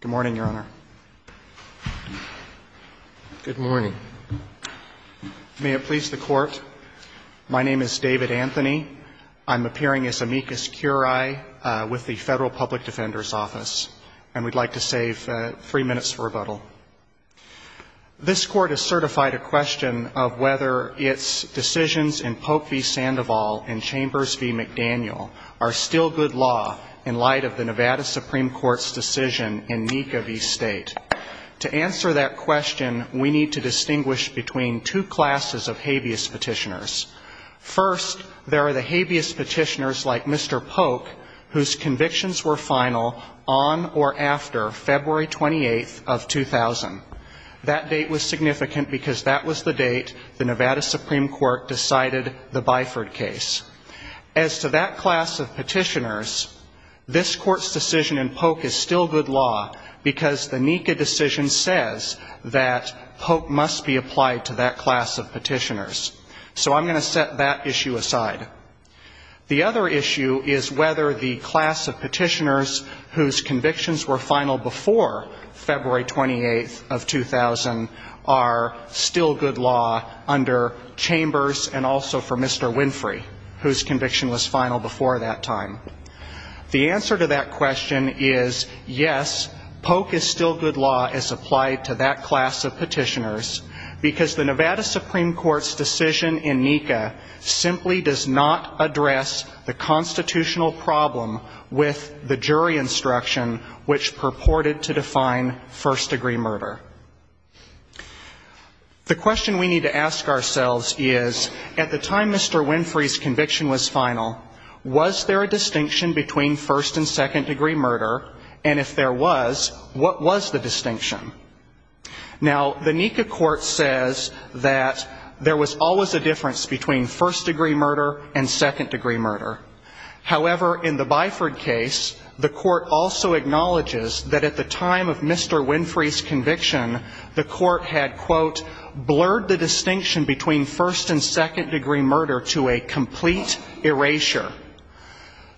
Good morning, Your Honor. Good morning. May it please the Court, my name is David Anthony. I'm appearing as amicus curiae with the Federal Public Defender's Office, and we'd like to save three minutes for rebuttal. This Court has certified a question of whether its decisions in Pope v. Sandoval and Chambers v. McDaniel are still good law in light of the Nevada Supreme Court's decision in Nika v. State. To answer that question, we need to distinguish between two classes of habeas petitioners. First, there are the habeas petitioners like Mr. Polk, whose convictions were final on or after February 28th of 2000. That date was significant because that was the date the Nevada Supreme Court decided the Byford case. As to that class of petitioners, this Court's decision in Polk is still good law because the Nika decision says that Polk must be applied to that class of petitioners. So I'm going to set that issue aside. The other issue is whether the class of petitioners whose convictions were final before February 28th of 2000 are still good law under Chambers and also for Mr. Winfrey, whose conviction was final before that time. The answer to that question is, yes, Polk is still good law as applied to that class of petitioners, because the Nevada Supreme Court's decision in Nika simply does not address the constitutional problem with the jury instruction which purported to define first-degree murder. The question we need to ask ourselves is, at the time Mr. Winfrey's conviction was final, was there a distinction between first- and second-degree murder? And if there was, what was the distinction? Now, the Nika court says that there was always a difference between first-degree murder and second-degree murder. However, in the Byford case, the court also said that at the time of Mr. Winfrey's conviction, the court had, quote, blurred the distinction between first- and second-degree murder to a complete erasure.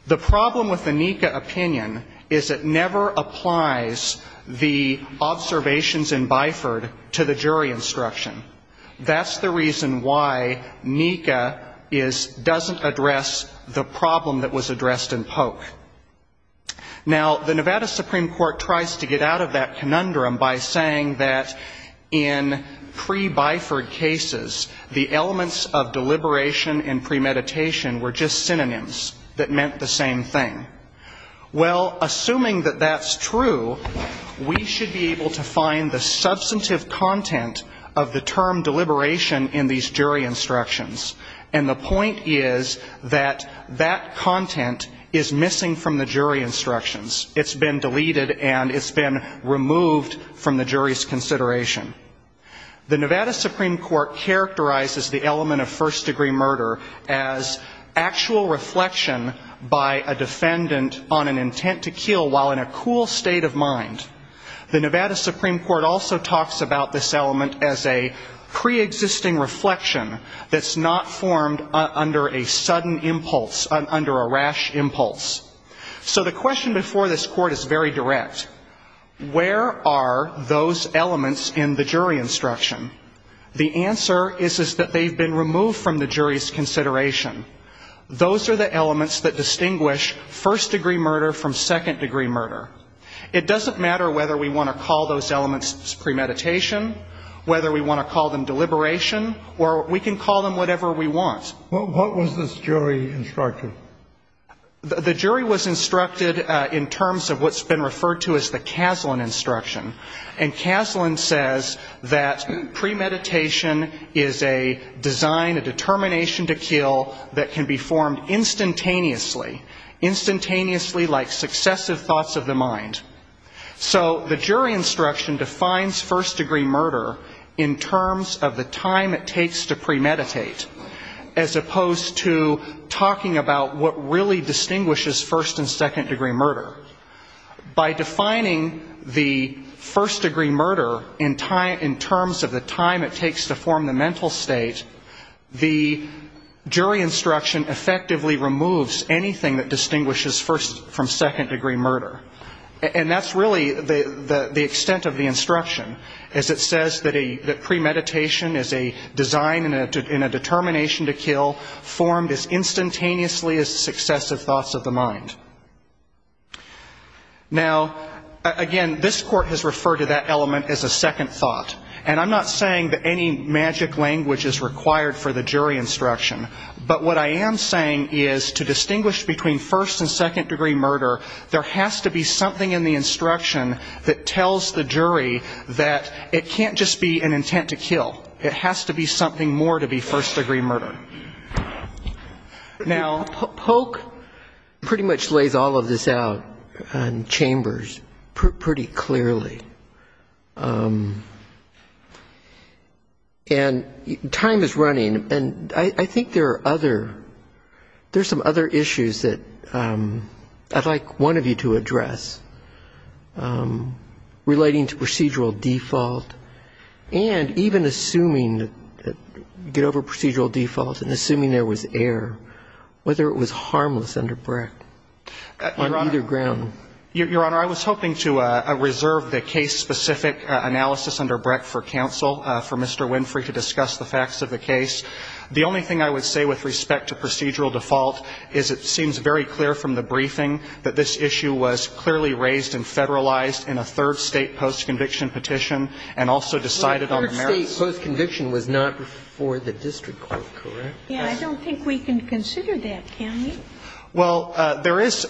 The problem with the Nika opinion is it never applies the observations in Byford to the jury instruction. That's the reason why Nika is, doesn't address the problem that was addressed in Polk. Now, the Nevada Supreme Court tries to get out of that conundrum by saying that in pre-Byford cases, the elements of deliberation and premeditation were just synonyms that meant the same thing. Well, assuming that that's true, we should be able to find the substantive content of the term deliberation in these jury instructions. And the point is that that content is missing from the jury instructions. It's been deleted and it's been removed from the jury's consideration. The Nevada Supreme Court characterizes the element of first-degree murder as actual reflection by a defendant on an intent to kill while in a cool state of mind. The Nevada Supreme Court also talks about this element as a pre-existing reflection that's not formed under a sudden impulse, under a rash impulse. So the question before this Court is very direct. Where are those elements in the jury instruction? The answer is that they've been removed from the jury's consideration. Those are the elements that distinguish first-degree murder from second-degree murder. It doesn't matter whether we want to call those elements premeditation, whether we want to call them deliberation, or we can call them whatever we want. What was this jury instruction? The jury was instructed in terms of what's been referred to as the Kaslan instruction. And Kaslan says that premeditation is a design, a determination to kill that can be formed instantaneously, instantaneously like successive thoughts of the mind. So the jury instruction defines first-degree murder in terms of the time it takes to premeditate, as opposed to talking about what really distinguishes first- and second-degree murder. By defining the first-degree murder in terms of the time it takes to form the mental state, the jury instruction effectively removes anything that is premeditated. And that's really the extent of the instruction, is it says that premeditation is a design and a determination to kill formed as instantaneously as successive thoughts of the mind. Now, again, this Court has referred to that element as a second thought. And I'm not saying that any magic language is required for the jury instruction, but what I am saying is to distinguish between first- and second-degree murder, there has to be something in the instruction that tells the jury that it can't just be an intent to kill. It has to be something more to be first-degree murder. Now, Polk pretty much lays all of this out in chambers pretty clearly. And time is running, and I think there are other, there are some other instances where the jury instruction is And I think that's one of the issues that I'd like one of you to address, relating to procedural default, and even assuming, get over procedural default and assuming there was error, whether it was harmless under Brecht on either ground. Your Honor, I was hoping to reserve the case-specific analysis under Brecht for counsel, for Mr. Winfrey to discuss the facts of the case. The only thing I would say with respect to procedural default is that it's not a case-specific analysis. It seems very clear from the briefing that this issue was clearly raised and federalized in a third-state post-conviction petition, and also decided on the merits. Well, a third-state post-conviction was not before the district court, correct? Yeah, I don't think we can consider that, can we? Well, there is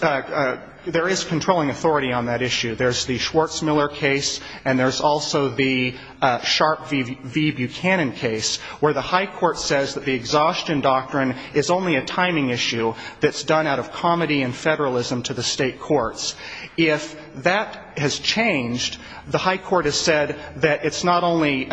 controlling authority on that issue. There's the Schwartz-Miller case, and there's also the Sharp v. Buchanan case, where the high court says that the exhaustion doctrine is only a timing issue that's not a case-specific analysis. It's done out of comedy and federalism to the state courts. If that has changed, the high court has said that it's not only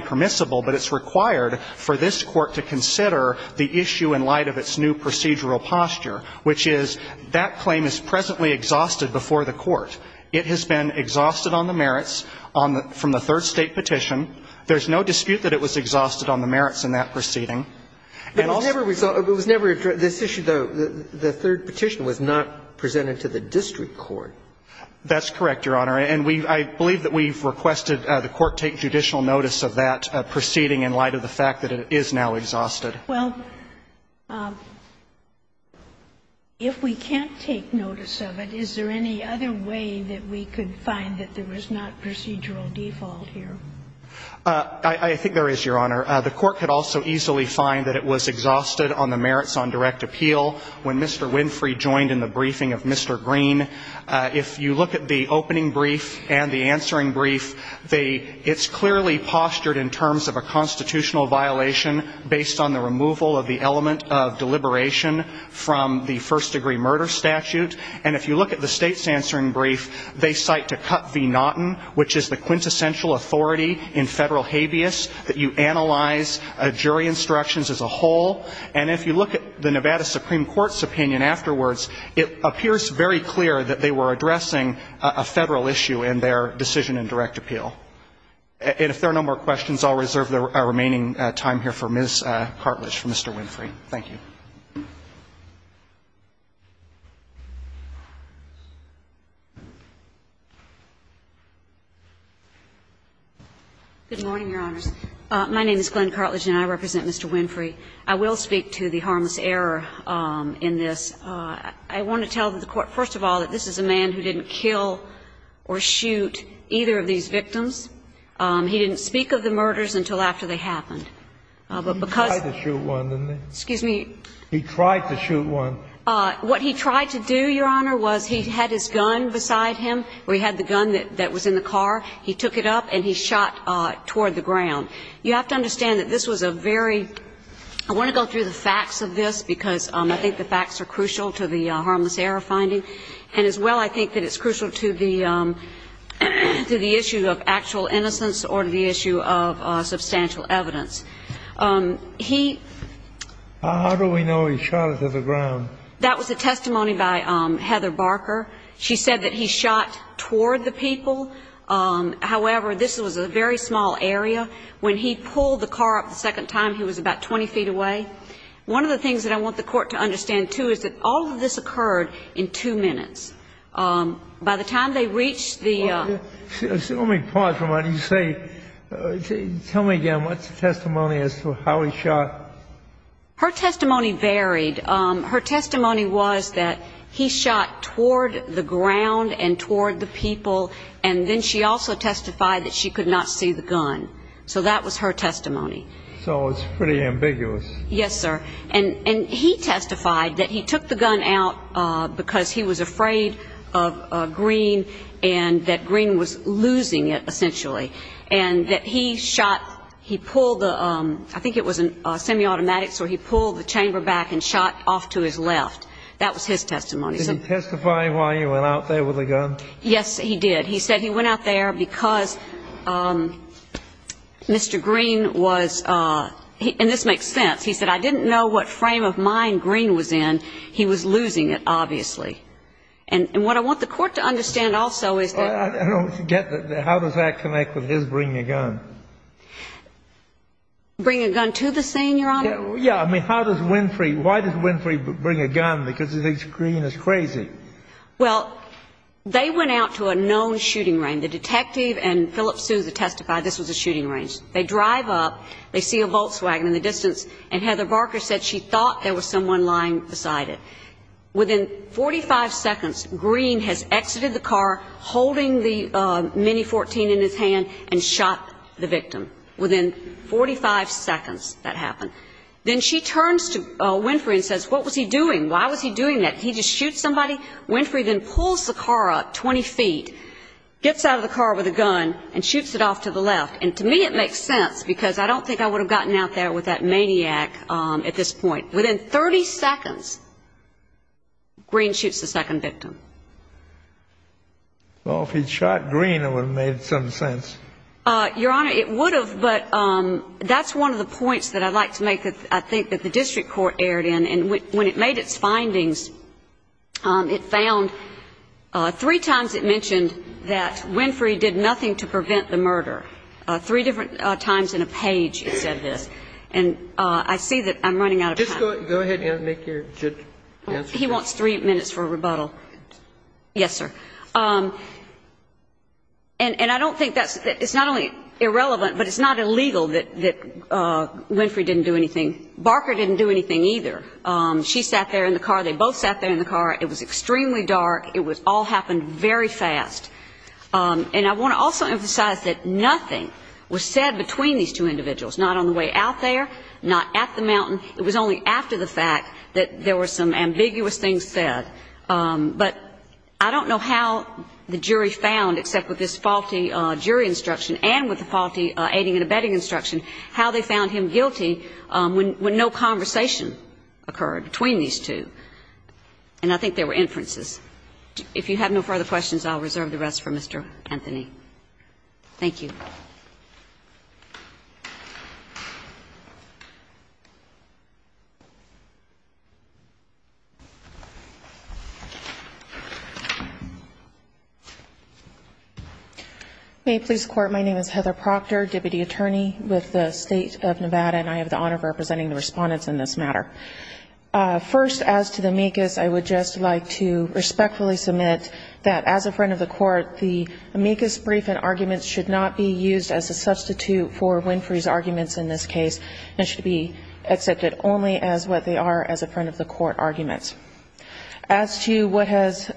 permissible, but it's required for this court to consider the issue in light of its new procedural posture, which is that claim is presently exhausted before the court. It has been exhausted on the merits from the third-state petition. There's no dispute that it was exhausted on the merits in that proceeding. It was never addressed. This issue, though, the third petition was not presented to the district court. That's correct, Your Honor. And I believe that we've requested the court take judicial notice of that proceeding in light of the fact that it is now exhausted. Well, if we can't take notice of it, is there any other way that we could find that there was not procedural default here? I think there is, Your Honor. The court could also easily find that it was exhausted on the merits on direct appeal when Mr. Winfrey joined in the briefing of Mr. Green. If you look at the opening brief and the answering brief, it's clearly postured in terms of a constitutional violation based on the removal of the element of deliberation from the first-degree murder statute. And if you look at the State's answering brief, they cite to Cut v. Naughton, which is the quintessential authority in Federal habeas, that you analyze jury instructions as a whole. And if you look at the Nevada Supreme Court's opinion afterwards, it appears very clear that they were addressing a Federal issue in their decision in direct appeal. And if there are no more questions, I'll reserve the remaining time here for Ms. Cartlidge for Mr. Winfrey. Thank you. Good morning, Your Honors. My name is Glenn Cartlidge, and I represent Mr. Winfrey. I will speak to the harmless error in this. I want to tell the court, first of all, that this is a man who didn't kill or shoot either of these victims. He didn't speak of the murders until after they happened. But because he tried to shoot one. What he tried to do, Your Honor, was he had his gun beside him, or he had the gun that was in the car. He took it up, and he fired it. And he shot toward the ground. You have to understand that this was a very – I want to go through the facts of this, because I think the facts are crucial to the harmless error finding, and as well, I think that it's crucial to the issue of actual innocence or to the issue of substantial evidence. He – How do we know he shot it to the ground? That was a testimony by Heather Barker. She said that he shot toward the people. However, this was a very small area. When he pulled the car up the second time, he was about 20 feet away. One of the things that I want the court to understand, too, is that all of this occurred in two minutes. By the time they reached the – Tell me again, what's the testimony as to how he shot? Her testimony varied. Her testimony was that he shot toward the ground and toward the people, and then she also testified that she could not see the gun. So that was her testimony. So it's pretty ambiguous. Yes, sir. And he testified that he took the gun out because he was afraid of Green and that Green was losing it, essentially, and that he shot – he pulled the – I think it was a semi-automatic, so he pulled the chamber back and shot off to his left. That was his testimony. Did he testify why he went out there with a gun? Yes, he did. He said he went out there because Mr. Green was – and this makes sense. He said, I didn't know what frame of mind Green was in. He was losing it, obviously. And what I want the court to understand also is that – I don't get the – how does that connect with his bringing a gun? Bring a gun to the scene, Your Honor? Yeah, I mean, how does Winfrey – why does Winfrey bring a gun? Because he thinks Green is crazy. Well, they went out to a known shooting range. The detective and Philip Sousa testified this was a shooting range. They drive up, they see a Volkswagen in the distance, and Heather Barker said she thought there was someone lying beside it. Within 45 seconds, Green has exited the car, holding the Mini-14 in his hand, and shot the victim. Within 45 seconds that happened. Then she turns to Winfrey and says, what was he doing? Why was he doing that? He just shoots somebody? Winfrey then pulls the car up 20 feet, gets out of the car with a gun, and shoots it off to the left. And to me it makes sense, because I don't think I would have gotten out there with that maniac at this point. Within 30 seconds, Green shoots the second victim. Well, if he'd shot Green, it would have made some sense. Your Honor, it would have, but that's one of the points that I'd like to make that I think the district court erred in. And when it made its findings, it found three times it mentioned that Winfrey did nothing to prevent the murder. Three different times in a page it said this. And I see that I'm running out of time. Just go ahead and make your answer. He wants three minutes for a rebuttal. Yes, sir. And I don't think that's, it's not only irrelevant, but it's not illegal that Winfrey didn't do anything. Barker didn't do anything either. She sat there in the car. They both sat there in the car. It was extremely dark. It all happened very fast. And I want to also emphasize that nothing was said between these two individuals, not on the way out there, not at the mountain. It was only after the fact that there were some ambiguous things said. But I don't know how the jury found, except with this faulty jury instruction and with the faulty aiding and abetting instruction, how they found him guilty when no conversation occurred between these two. And I think there were inferences. If you have no further questions, I'll reserve the rest for Mr. Anthony. Thank you. May police court. My name is Heather Proctor, deputy attorney with the state of Nevada, and I have the honor of representing the respondents in this matter. First, as to the amicus, I would just like to respectfully submit that as a friend of the court, the amicus brief and arguments should not be used as a substitute for Winfrey's arguments in this case and should be accepted only as a substitute for the amicus brief. It should be accepted only as what they are as a friend of the court arguments. As to what has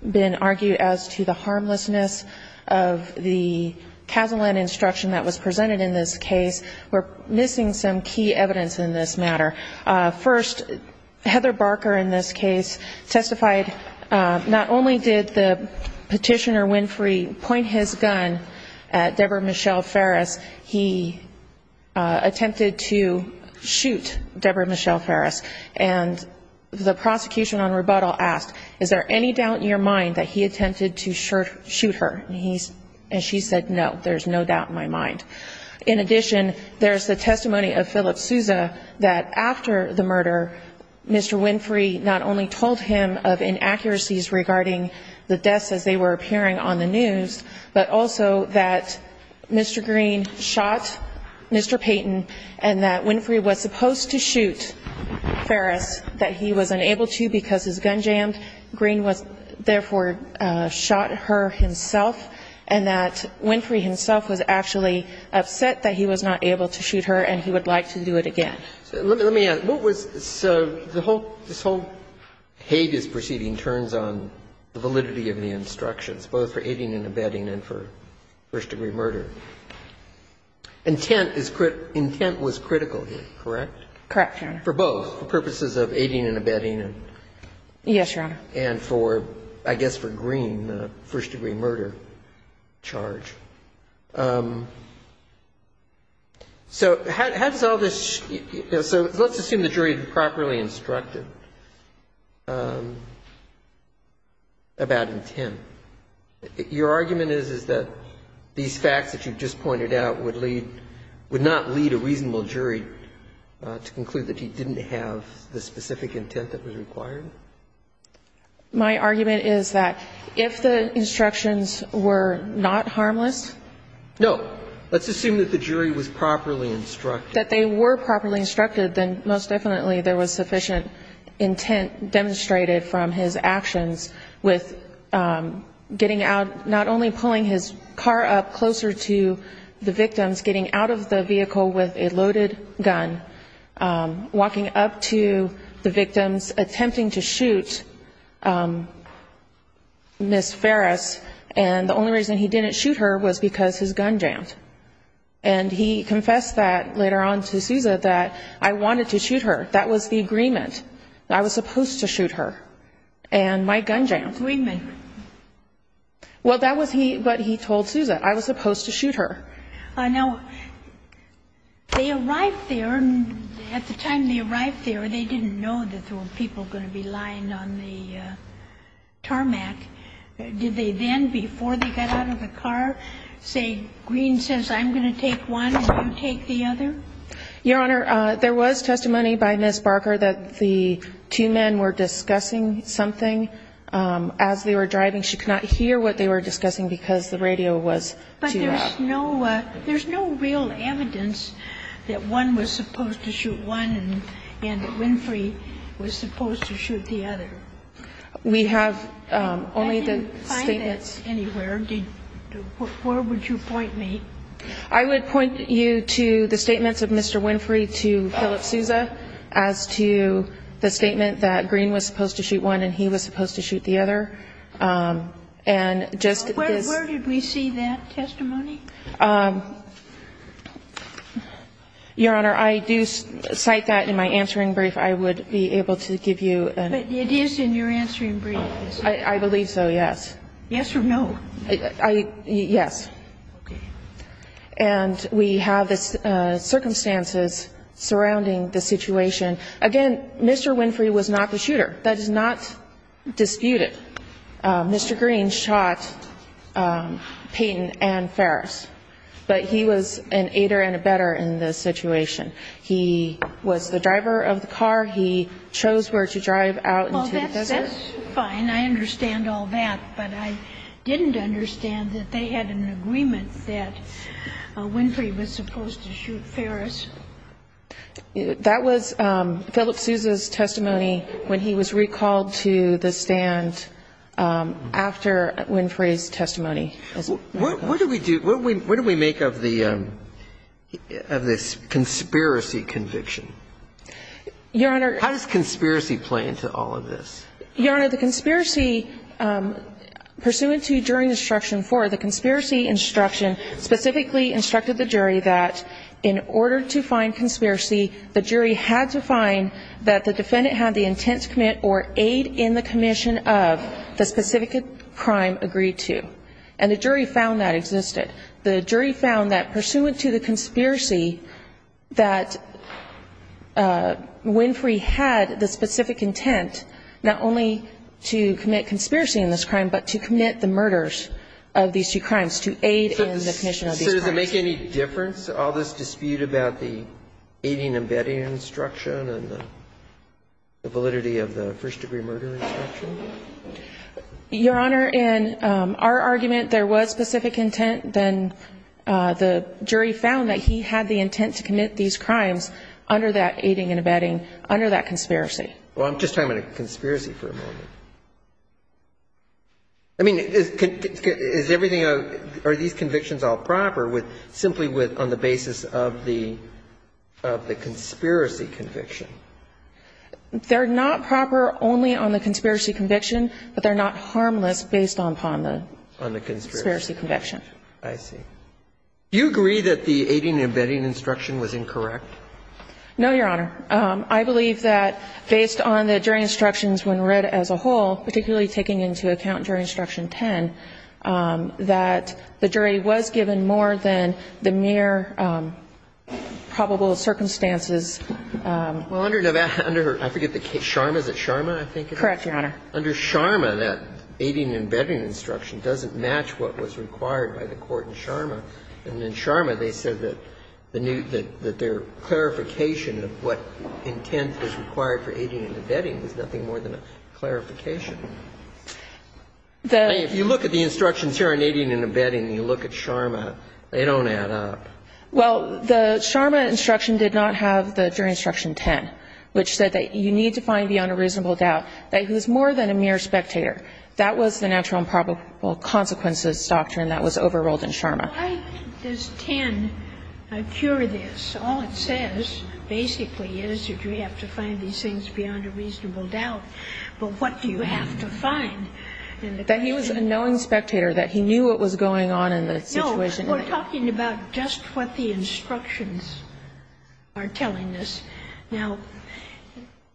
been argued as to the harmlessness of the Casaland instruction that was presented in this case, we're missing some key evidence in this matter. First, Heather Barker in this case testified not only did the petitioner Winfrey point his gun at Deborah Michelle Ferris, he attempted to shoot Deborah Michelle Ferris, and the prosecution on rebuttal asked, is there any doubt in your mind that he attempted to shoot her? And she said, no, there's no doubt in my mind. In addition, there's the testimony of Philip Sousa that after the murder, Mr. Winfrey not only told him of inaccuracies regarding the deaths as they were appearing on the news, but also that Mr. Green shot Mr. Payton and that Winfrey was supposed to shoot Deborah Michelle Ferris. He was unable to because his gun jammed, Green therefore shot her himself, and that Winfrey himself was actually upset that he was not able to shoot her and he would like to do it again. Let me ask, what was, so this whole hate is proceeding turns on the validity of the instructions, both for aiding and abetting and for first-degree murder. Intent was critical here, correct? Correct, Your Honor. For both, for purposes of aiding and abetting. Yes, Your Honor. And for, I guess, for Green, a first-degree murder charge. So how does all this, so let's assume the jury properly instructed about intent. Your argument is that these facts that you're presenting are not sufficient, that the facts you just pointed out would lead, would not lead a reasonable jury to conclude that he didn't have the specific intent that was required? My argument is that if the instructions were not harmless. No. Let's assume that the jury was properly instructed. That they were properly instructed, then most definitely there was sufficient intent demonstrated from his actions with getting out, not only pulling his car up but getting closer to the victims, getting out of the vehicle with a loaded gun, walking up to the victims, attempting to shoot Ms. Ferris and the only reason he didn't shoot her was because his gun jammed. And he confessed that later on to Sousa that I wanted to shoot her, that was the agreement, that I was supposed to shoot her and my gun jammed. And that was the agreement. Well, that was he, but he told Sousa, I was supposed to shoot her. Now, they arrived there and at the time they arrived there, they didn't know that there were people going to be lying on the tarmac. Did they then, before they got out of the car, say, Green says I'm going to take one and you take the other? Your Honor, there was testimony by Ms. Barker that the two men were discussing something, and Green said, I'm going to take one and you take the other. As they were driving, she could not hear what they were discussing because the radio was too loud. But there's no real evidence that one was supposed to shoot one and that Winfrey was supposed to shoot the other. I didn't find that anywhere. Where would you point me? I would point you to the statements of Mr. Winfrey to Philip Sousa as to the statement that Green was supposed to shoot one and he was supposed to shoot the other. And just this Where did we see that testimony? Your Honor, I do cite that in my answering brief. I would be able to give you an answer. But it is in your answering brief, is it? I believe so, yes. Yes or no? Yes. Okay. And we have the circumstances surrounding the situation. Again, Mr. Winfrey was not the shooter. That is not disputed. Mr. Green shot Peyton and Ferris. But he was an aider and abetter in this situation. He was the driver of the car. He chose where to drive out into the desert. Well, that's fine. I understand all that. But I didn't understand that they had an agreement that Winfrey was supposed to shoot Ferris. That was Philip Sousa's testimony when he was recalled to the stand after Winfrey's testimony. What do we make of this conspiracy conviction? Your Honor. How does conspiracy play into all of this? Your Honor, the conspiracy, pursuant to jury instruction four, the conspiracy instruction specifically instructed the jury that in order to do this, in order to find conspiracy, the jury had to find that the defendant had the intent to commit or aid in the commission of the specific crime agreed to. And the jury found that existed. The jury found that pursuant to the conspiracy, that Winfrey had the specific intent not only to commit conspiracy in this crime, but to commit the murders of these two crimes, to aid in the commission of these crimes. So does it make any difference, all this dispute about the aiding and abetting instruction and the validity of the first-degree murder instruction? Your Honor, in our argument, there was specific intent. Then the jury found that he had the intent to commit these crimes under that aiding and abetting, under that conspiracy. Well, I'm just talking about a conspiracy for a moment. I mean, is everything, are these convictions all proper with, simply with, on the basis of the conspiracy conviction? They're not proper only on the conspiracy conviction, but they're not harmless based upon the conspiracy conviction. I see. Do you agree that the aiding and abetting instruction was incorrect? No, Your Honor. I believe that based on the jury instructions when read as a whole, it was incorrect. I believe that based on the jury instructions when read as a whole, particularly taking into account jury instruction 10, that the jury was given more than the mere probable circumstances. Well, under Nevada, under, I forget the case, Sharma, is it Sharma, I think it is? Correct, Your Honor. Under Sharma, that aiding and abetting instruction doesn't match what was required by the court in Sharma, and in Sharma they said that the new, that their clarification of what intent was required for aiding and abetting was nothing more than a clarification. If you look at the instructions here on aiding and abetting and you look at Sharma, they don't add up. Well, the Sharma instruction did not have the jury instruction 10, which said that you need to find beyond a reasonable doubt that it was more than a mere spectator. That was the natural and probable consequences doctrine that was overruled in Sharma. Why does 10 cure this? All it says, basically, is that you have to find these things beyond a reasonable doubt. But what do you have to find? That he was a knowing spectator, that he knew what was going on in the situation. No, we're talking about just what the instructions are telling us. Now,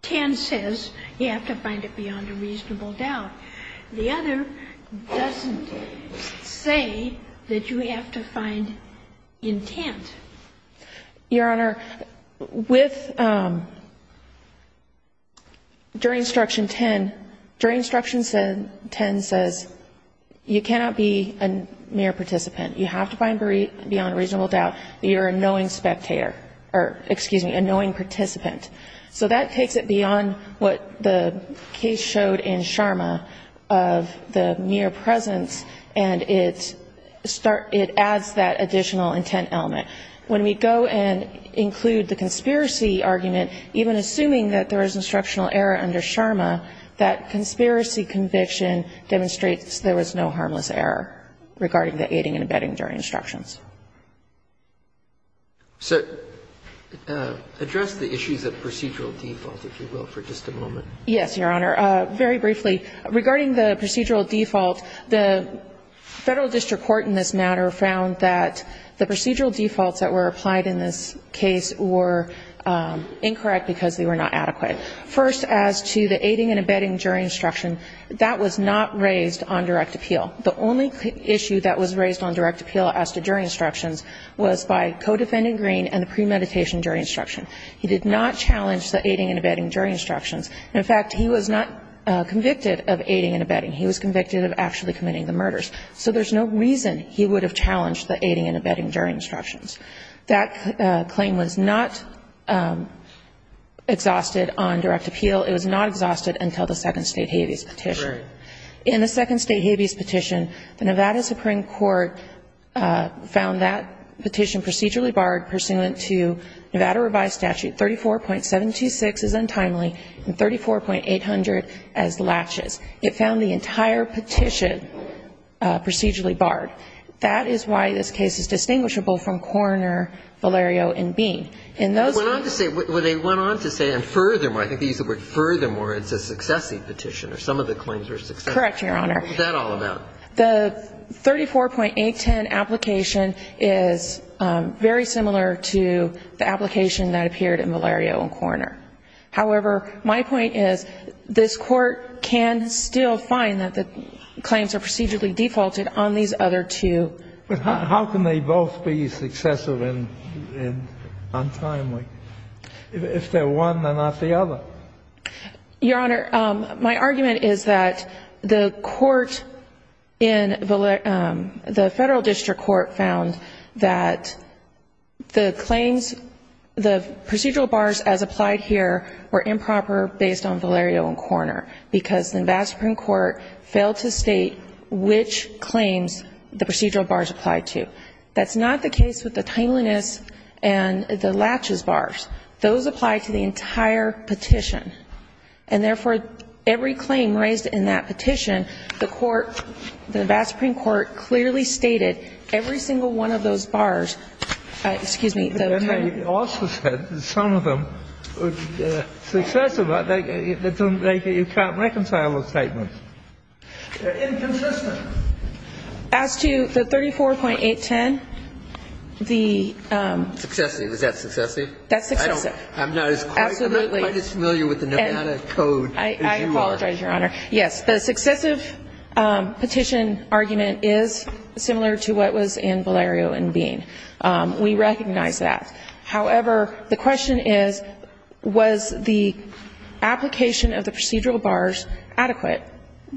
10 says you have to find it beyond a reasonable doubt. The other doesn't say that you have to find intent. Your Honor, with jury instruction 10, jury instruction 10 says you cannot be a mere participant. You have to find beyond a reasonable doubt that you're a knowing spectator, or excuse me, a knowing participant. So that takes it beyond what the case showed in Sharma of the mere presence, and it adds that additional intent element. When we go and include the conspiracy argument, even assuming that there was an instructional error under Sharma, that conspiracy conviction demonstrates there was no harmless error regarding the aiding and abetting jury instructions. So address the issues of procedural default, if you will, for just a moment. Yes, Your Honor. Very briefly, regarding the procedural default, the Federal District Court in this matter found that the procedural defaults that were applied in this case were incorrect because they were not adequate. First, as to the aiding and abetting jury instruction, that was not raised on direct appeal. The only issue that was raised on direct appeal as to jury instructions was by codefendant Green and the premeditation jury instruction. He did not challenge the aiding and abetting jury instructions. In fact, he was not convicted of aiding and abetting. He was convicted of actually committing the murders. So there's no reason he would have challenged the aiding and abetting jury instructions. That claim was not exhausted on direct appeal. Right. In the Second State Habeas Petition, the Nevada Supreme Court found that petition procedurally barred pursuant to Nevada Revised Statute 34.726 as untimely and 34.800 as laches. It found the entire petition procedurally barred. That is why this case is distinguishable from Coroner Valerio and Bean. In those cases they went on to say and furthermore, I think they used the word furthermore, it's a successive petition or some of the claims were successful. Correct, Your Honor. What's that all about? The 34.810 application is very similar to the application that appeared in Valerio and Coroner. However, my point is this Court can still find that the claims are procedurally defaulted on these other two. But how can they both be successful and untimely? If they're one, they're not the other. Your Honor, my argument is that the court in the Federal District Court found that the claims, the procedural bars as applied here were improper based on Valerio and Coroner because the Nevada Supreme Court failed to state which claims the procedural bars applied to. That's not the case with the timeliness and the laches bars. Those apply to the entire petition. And therefore, every claim raised in that petition, the court, the Nevada Supreme Court clearly stated every single one of those bars, excuse me. But then they also said that some of them were successful, but you can't reconcile those statements. They're inconsistent. As to the 34.810, the... Successive. Is that successive? That's successive. Absolutely. I'm not quite as familiar with the Nevada code as you are. I apologize, Your Honor. Yes. The successive petition argument is similar to what was in Valerio and Bean. We recognize that. However, the question is, was the application of the procedural bars adequate?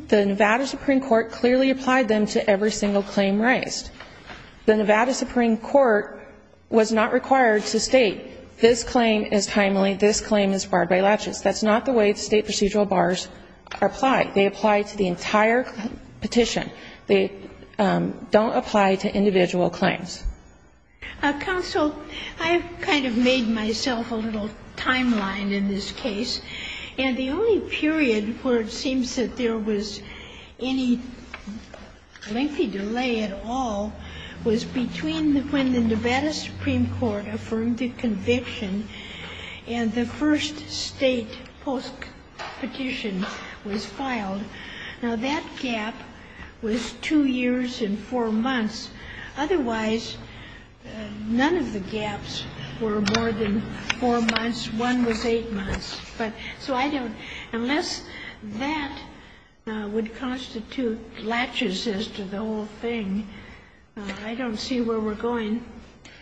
The Nevada Supreme Court clearly applied them to every single claim raised. The Nevada Supreme Court was not required to state this claim is timely, this claim is barred by laches. That's not the way state procedural bars apply. They apply to the entire petition. They don't apply to individual claims. Counsel, I've kind of made myself a little timeline in this case. And the only period where it seems that there was any lengthy delay at all was between when the Nevada Supreme Court affirmed the conviction and the first state post-petition was filed. Now, that gap was two years and four months. Otherwise, none of the gaps were more than four months. One was eight months. So I don't unless that would constitute laches as to the whole thing, I don't see where we're going.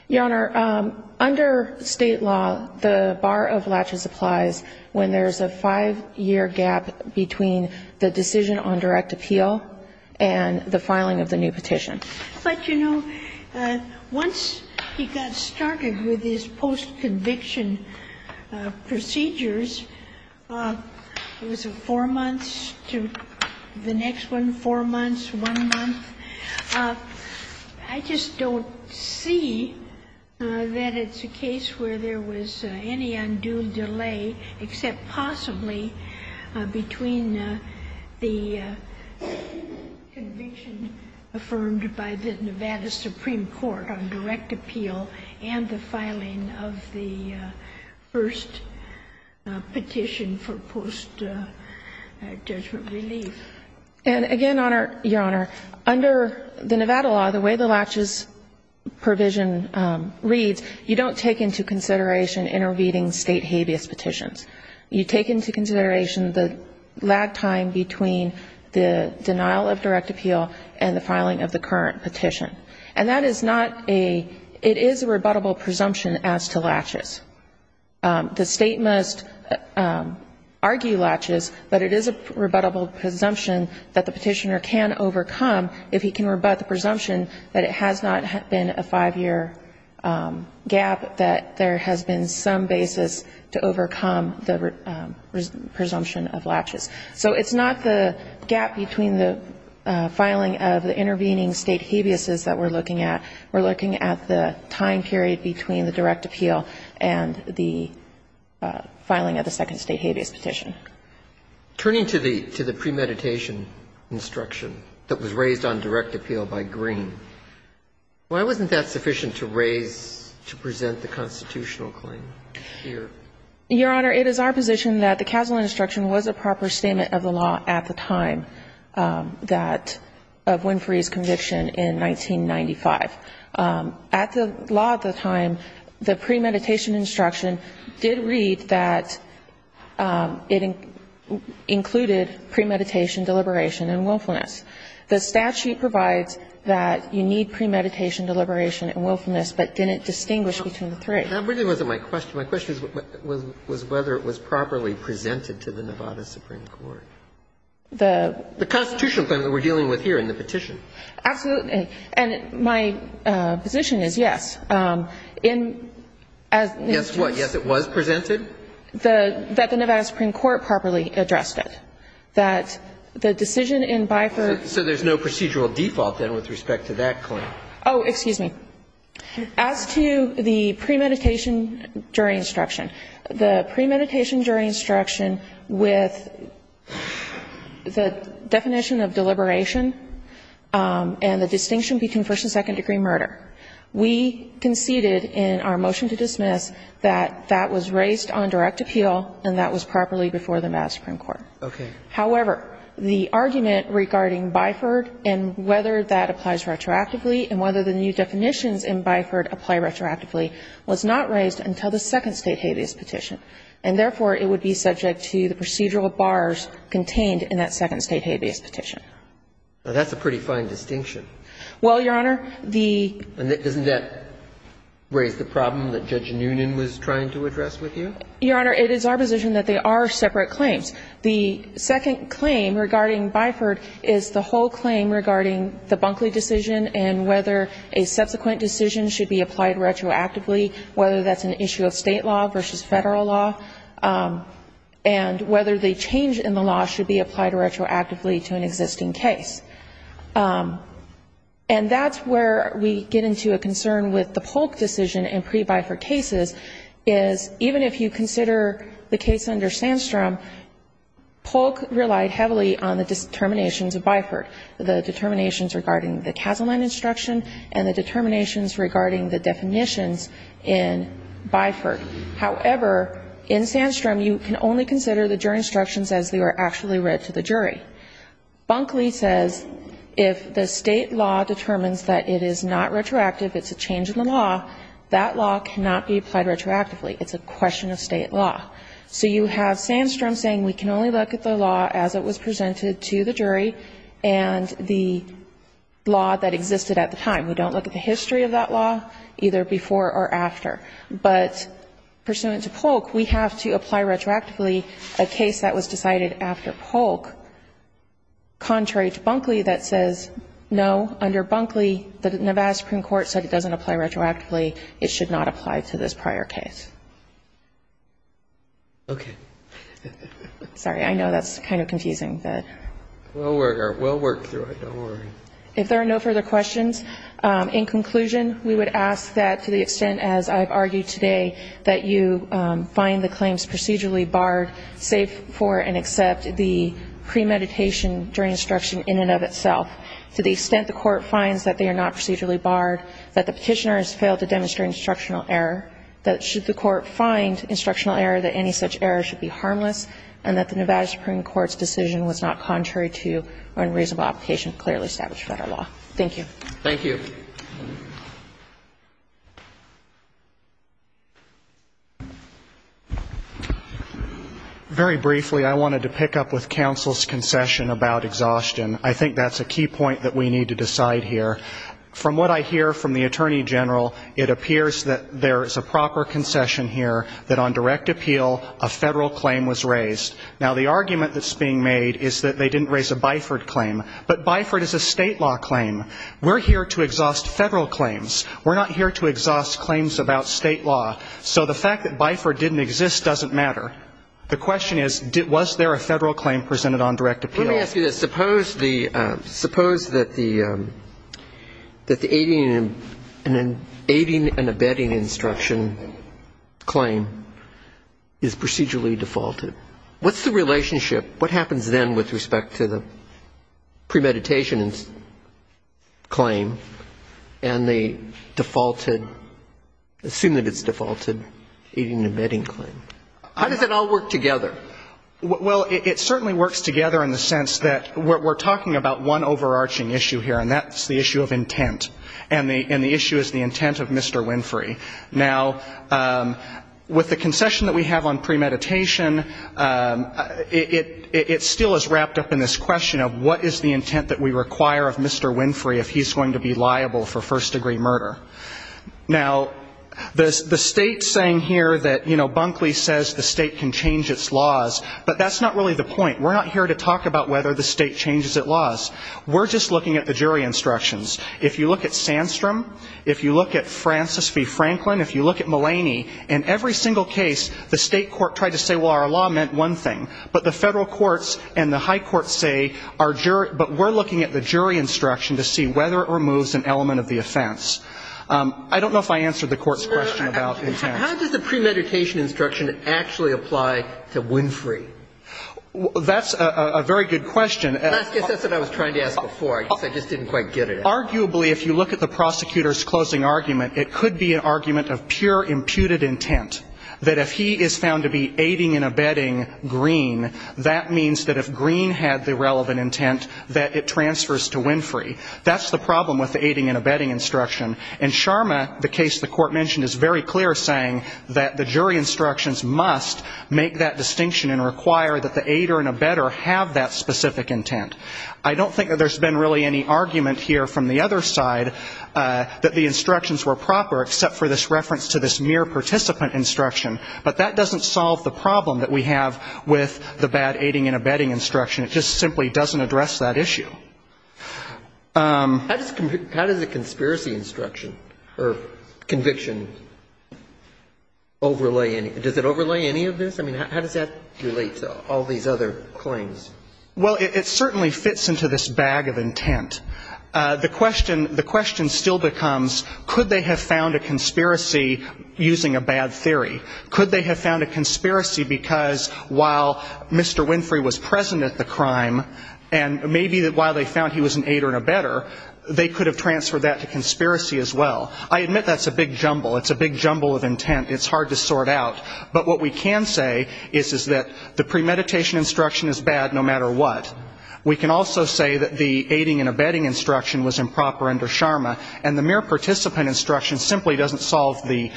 Your Honor, under State law, the bar of laches applies when there's a five-year gap between the decision on direct appeal and the filing of the new petition. But, you know, once he got started with his post-conviction procedures, he was able to go from two years, it was four months, to the next one, four months, one month. I just don't see that it's a case where there was any undue delay, except possibly between the conviction affirmed by the Nevada Supreme Court on direct appeal and the filing of the first petition for post-judgment relief. And again, Your Honor, under the Nevada law, the way the laches provision reads, you don't take into consideration intervening State habeas petitions. You take into consideration the lag time between the denial of direct appeal and the filing of the current petition. And that is not a, it is a rebuttable presumption as to laches. The State must argue laches, but it is a rebuttable presumption that the petitioner can overcome if he can rebut the presumption that it has not been a five-year gap, that there has been some basis to overcome the presumption of laches. So it's not the gap between the filing of the intervening State habeas that we're looking at. We're looking at the time period between the direct appeal and the filing of the second State habeas petition. Turning to the premeditation instruction that was raised on direct appeal by Green, why wasn't that sufficient to raise, to present the constitutional claim here? Your Honor, it is our position that the casual instruction was a proper statement of the law at the time that, of Winfrey's conviction in 1995. At the law at the time, the premeditation instruction did read that it included premeditation, deliberation, and willfulness. The statute provides that you need premeditation, deliberation, and willfulness, but didn't distinguish between the three. That really wasn't my question. My question was whether it was properly presented to the Nevada Supreme Court. The constitutional claim that we're dealing with here in the petition. Absolutely. And my position is, yes. In as to this. Yes, what? Yes, it was presented? That the Nevada Supreme Court properly addressed it. That the decision in Bifer. So there's no procedural default, then, with respect to that claim? Oh, excuse me. As to the premeditation jury instruction, the premeditation jury instruction with the definition of deliberation and the distinction between first and second degree murder, we conceded in our motion to dismiss that that was raised on direct appeal and that was properly before the Nevada Supreme Court. Okay. However, the argument regarding Bifer and whether that applies retroactively and whether the new definitions in Bifer apply retroactively was not raised until the second state habeas petition. And therefore, it would be subject to the procedural bars contained in that second state habeas petition. Now, that's a pretty fine distinction. Well, Your Honor, the And doesn't that raise the problem that Judge Noonan was trying to address with you? Your Honor, it is our position that they are separate claims. The second claim regarding Bifer is the whole claim regarding the Bunkley decision and whether a subsequent decision should be applied retroactively, whether that's an issue of state law versus federal law, and whether the change in the law should be applied retroactively to an existing case. And that's where we get into a concern with the Polk decision in pre-Bifer cases is even if you consider the case under Sandstrom, Polk relied heavily on the determinations of Bifer, the determinations regarding the Casaline instruction and the determinations regarding the definitions in Bifer. However, in Sandstrom, you can only consider the jury instructions as they were actually read to the jury. Bunkley says if the state law determines that it is not retroactive, it's a change in the law, that law cannot be applied retroactively. It's a question of state law. So you have Sandstrom saying we can only look at the law as it was presented to the jury and the law that existed at the time. We don't look at the history of that law, either before or after. But pursuant to Polk, we have to apply retroactively a case that was decided after Polk, contrary to Bunkley that says, no, under Bunkley, the Nevada Supreme Court said it doesn't apply retroactively. It should not apply to this prior case. Okay. Sorry, I know that's kind of confusing. We'll work through it. Don't worry. If there are no further questions, in conclusion, we would ask that to the extent as I've argued today that you find the claims procedurally barred, save for and accept the premeditation during instruction in and of itself. To the extent the court finds that they are not procedurally barred, that the court find instructional error that any such error should be harmless and that the Nevada Supreme Court's decision was not contrary to unreasonable application clearly established by our law. Thank you. Thank you. Very briefly, I wanted to pick up with counsel's concession about exhaustion. I think that's a key point that we need to decide here. From what I hear from the Attorney General, it appears that there is a proper concession here that on direct appeal, a Federal claim was raised. Now, the argument that's being made is that they didn't raise a Biford claim. But Biford is a State law claim. We're here to exhaust Federal claims. We're not here to exhaust claims about State law. So the fact that Biford didn't exist doesn't matter. The question is, was there a Federal claim presented on direct appeal? Let me ask you this. Suppose that the aiding and abetting instruction claim is procedurally defaulted. What's the relationship? What happens then with respect to the premeditation claim and the defaulted, assume that it's defaulted, aiding and abetting claim? How does it all work together? Well, it certainly works together in the sense that we're talking about one overarching issue here, and that's the issue of intent. And the issue is the intent of Mr. Winfrey. Now, with the concession that we have on premeditation, it still is wrapped up in this question of what is the intent that we require of Mr. Winfrey if he's going to be liable for first-degree murder. Now, the State saying here that, you know, Bunkley says the State can change its laws, but that's not really the point. We're not here to talk about whether the State changes its laws. We're just looking at the jury instructions. If you look at Sandstrom, if you look at Francis v. Franklin, if you look at Mulaney, in every single case, the State court tried to say, well, our law meant one thing. But the Federal courts and the high courts say, but we're looking at the jury instruction to see whether it removes an element of the offense. I don't know if I answered the court's question about intent. How does the premeditation instruction actually apply to Winfrey? That's a very good question. I guess that's what I was trying to ask before. I just didn't quite get it. Arguably, if you look at the prosecutor's closing argument, it could be an argument of pure imputed intent, that if he is found to be aiding and abetting Green, that means that if Green had the relevant intent, that it transfers to Winfrey. That's the problem with the aiding and abetting instruction. In Sharma, the case the court mentioned is very clear saying that the jury instructions must make that distinction and require that the aider and abetter have that specific intent. I don't think that there's been really any argument here from the other side that the instructions were proper, except for this reference to this mere participant instruction. But that doesn't solve the problem that we have with the bad aiding and abetting instruction. It just simply doesn't address that issue. How does the conspiracy instruction or conviction overlay any of this? I mean, how does that relate to all these other claims? Well, it certainly fits into this bag of intent. The question still becomes, could they have found a conspiracy using a bad theory? Could they have found a conspiracy because while Mr. Winfrey was present at the trial, they found he was an aider and abetter. They could have transferred that to conspiracy as well. I admit that's a big jumble. It's a big jumble of intent. It's hard to sort out. But what we can say is that the premeditation instruction is bad no matter what. We can also say that the aiding and abetting instruction was improper under Sharma, and the mere participant instruction simply doesn't solve the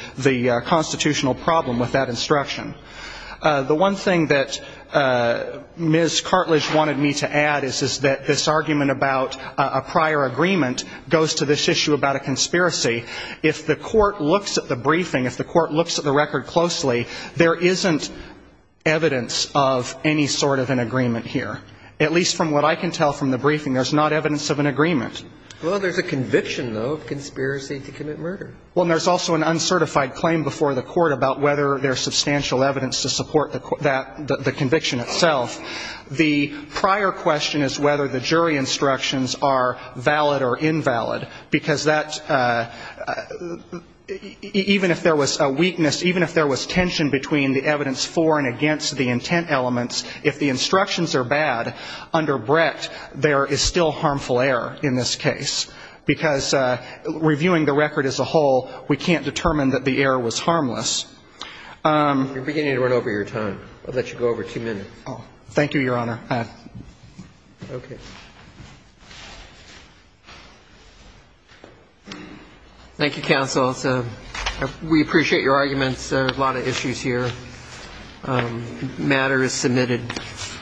constitutional problem with that instruction. The one thing that Ms. Cartlidge wanted me to add is that this argument about a prior agreement goes to this issue about a conspiracy. If the court looks at the briefing, if the court looks at the record closely, there isn't evidence of any sort of an agreement here. At least from what I can tell from the briefing, there's not evidence of an agreement. Well, there's a conviction, though, of conspiracy to commit murder. Well, and there's also an uncertified claim before the court about whether there's substantial evidence to support that, the conviction itself. The prior question is whether the jury instructions are valid or invalid, because that, even if there was a weakness, even if there was tension between the evidence for and against the intent elements, if the instructions are bad under Brett, there is still harmful error in this case. Because reviewing the record as a whole, we can't determine that the error was harmless. You're beginning to run over your time. I'll let you go over two minutes. Thank you, Your Honor. Okay. Thank you, counsel. We appreciate your arguments. There are a lot of issues here. Thank you. Thank you. Thank you. Thank you. Thank you. Thank you. Thank you.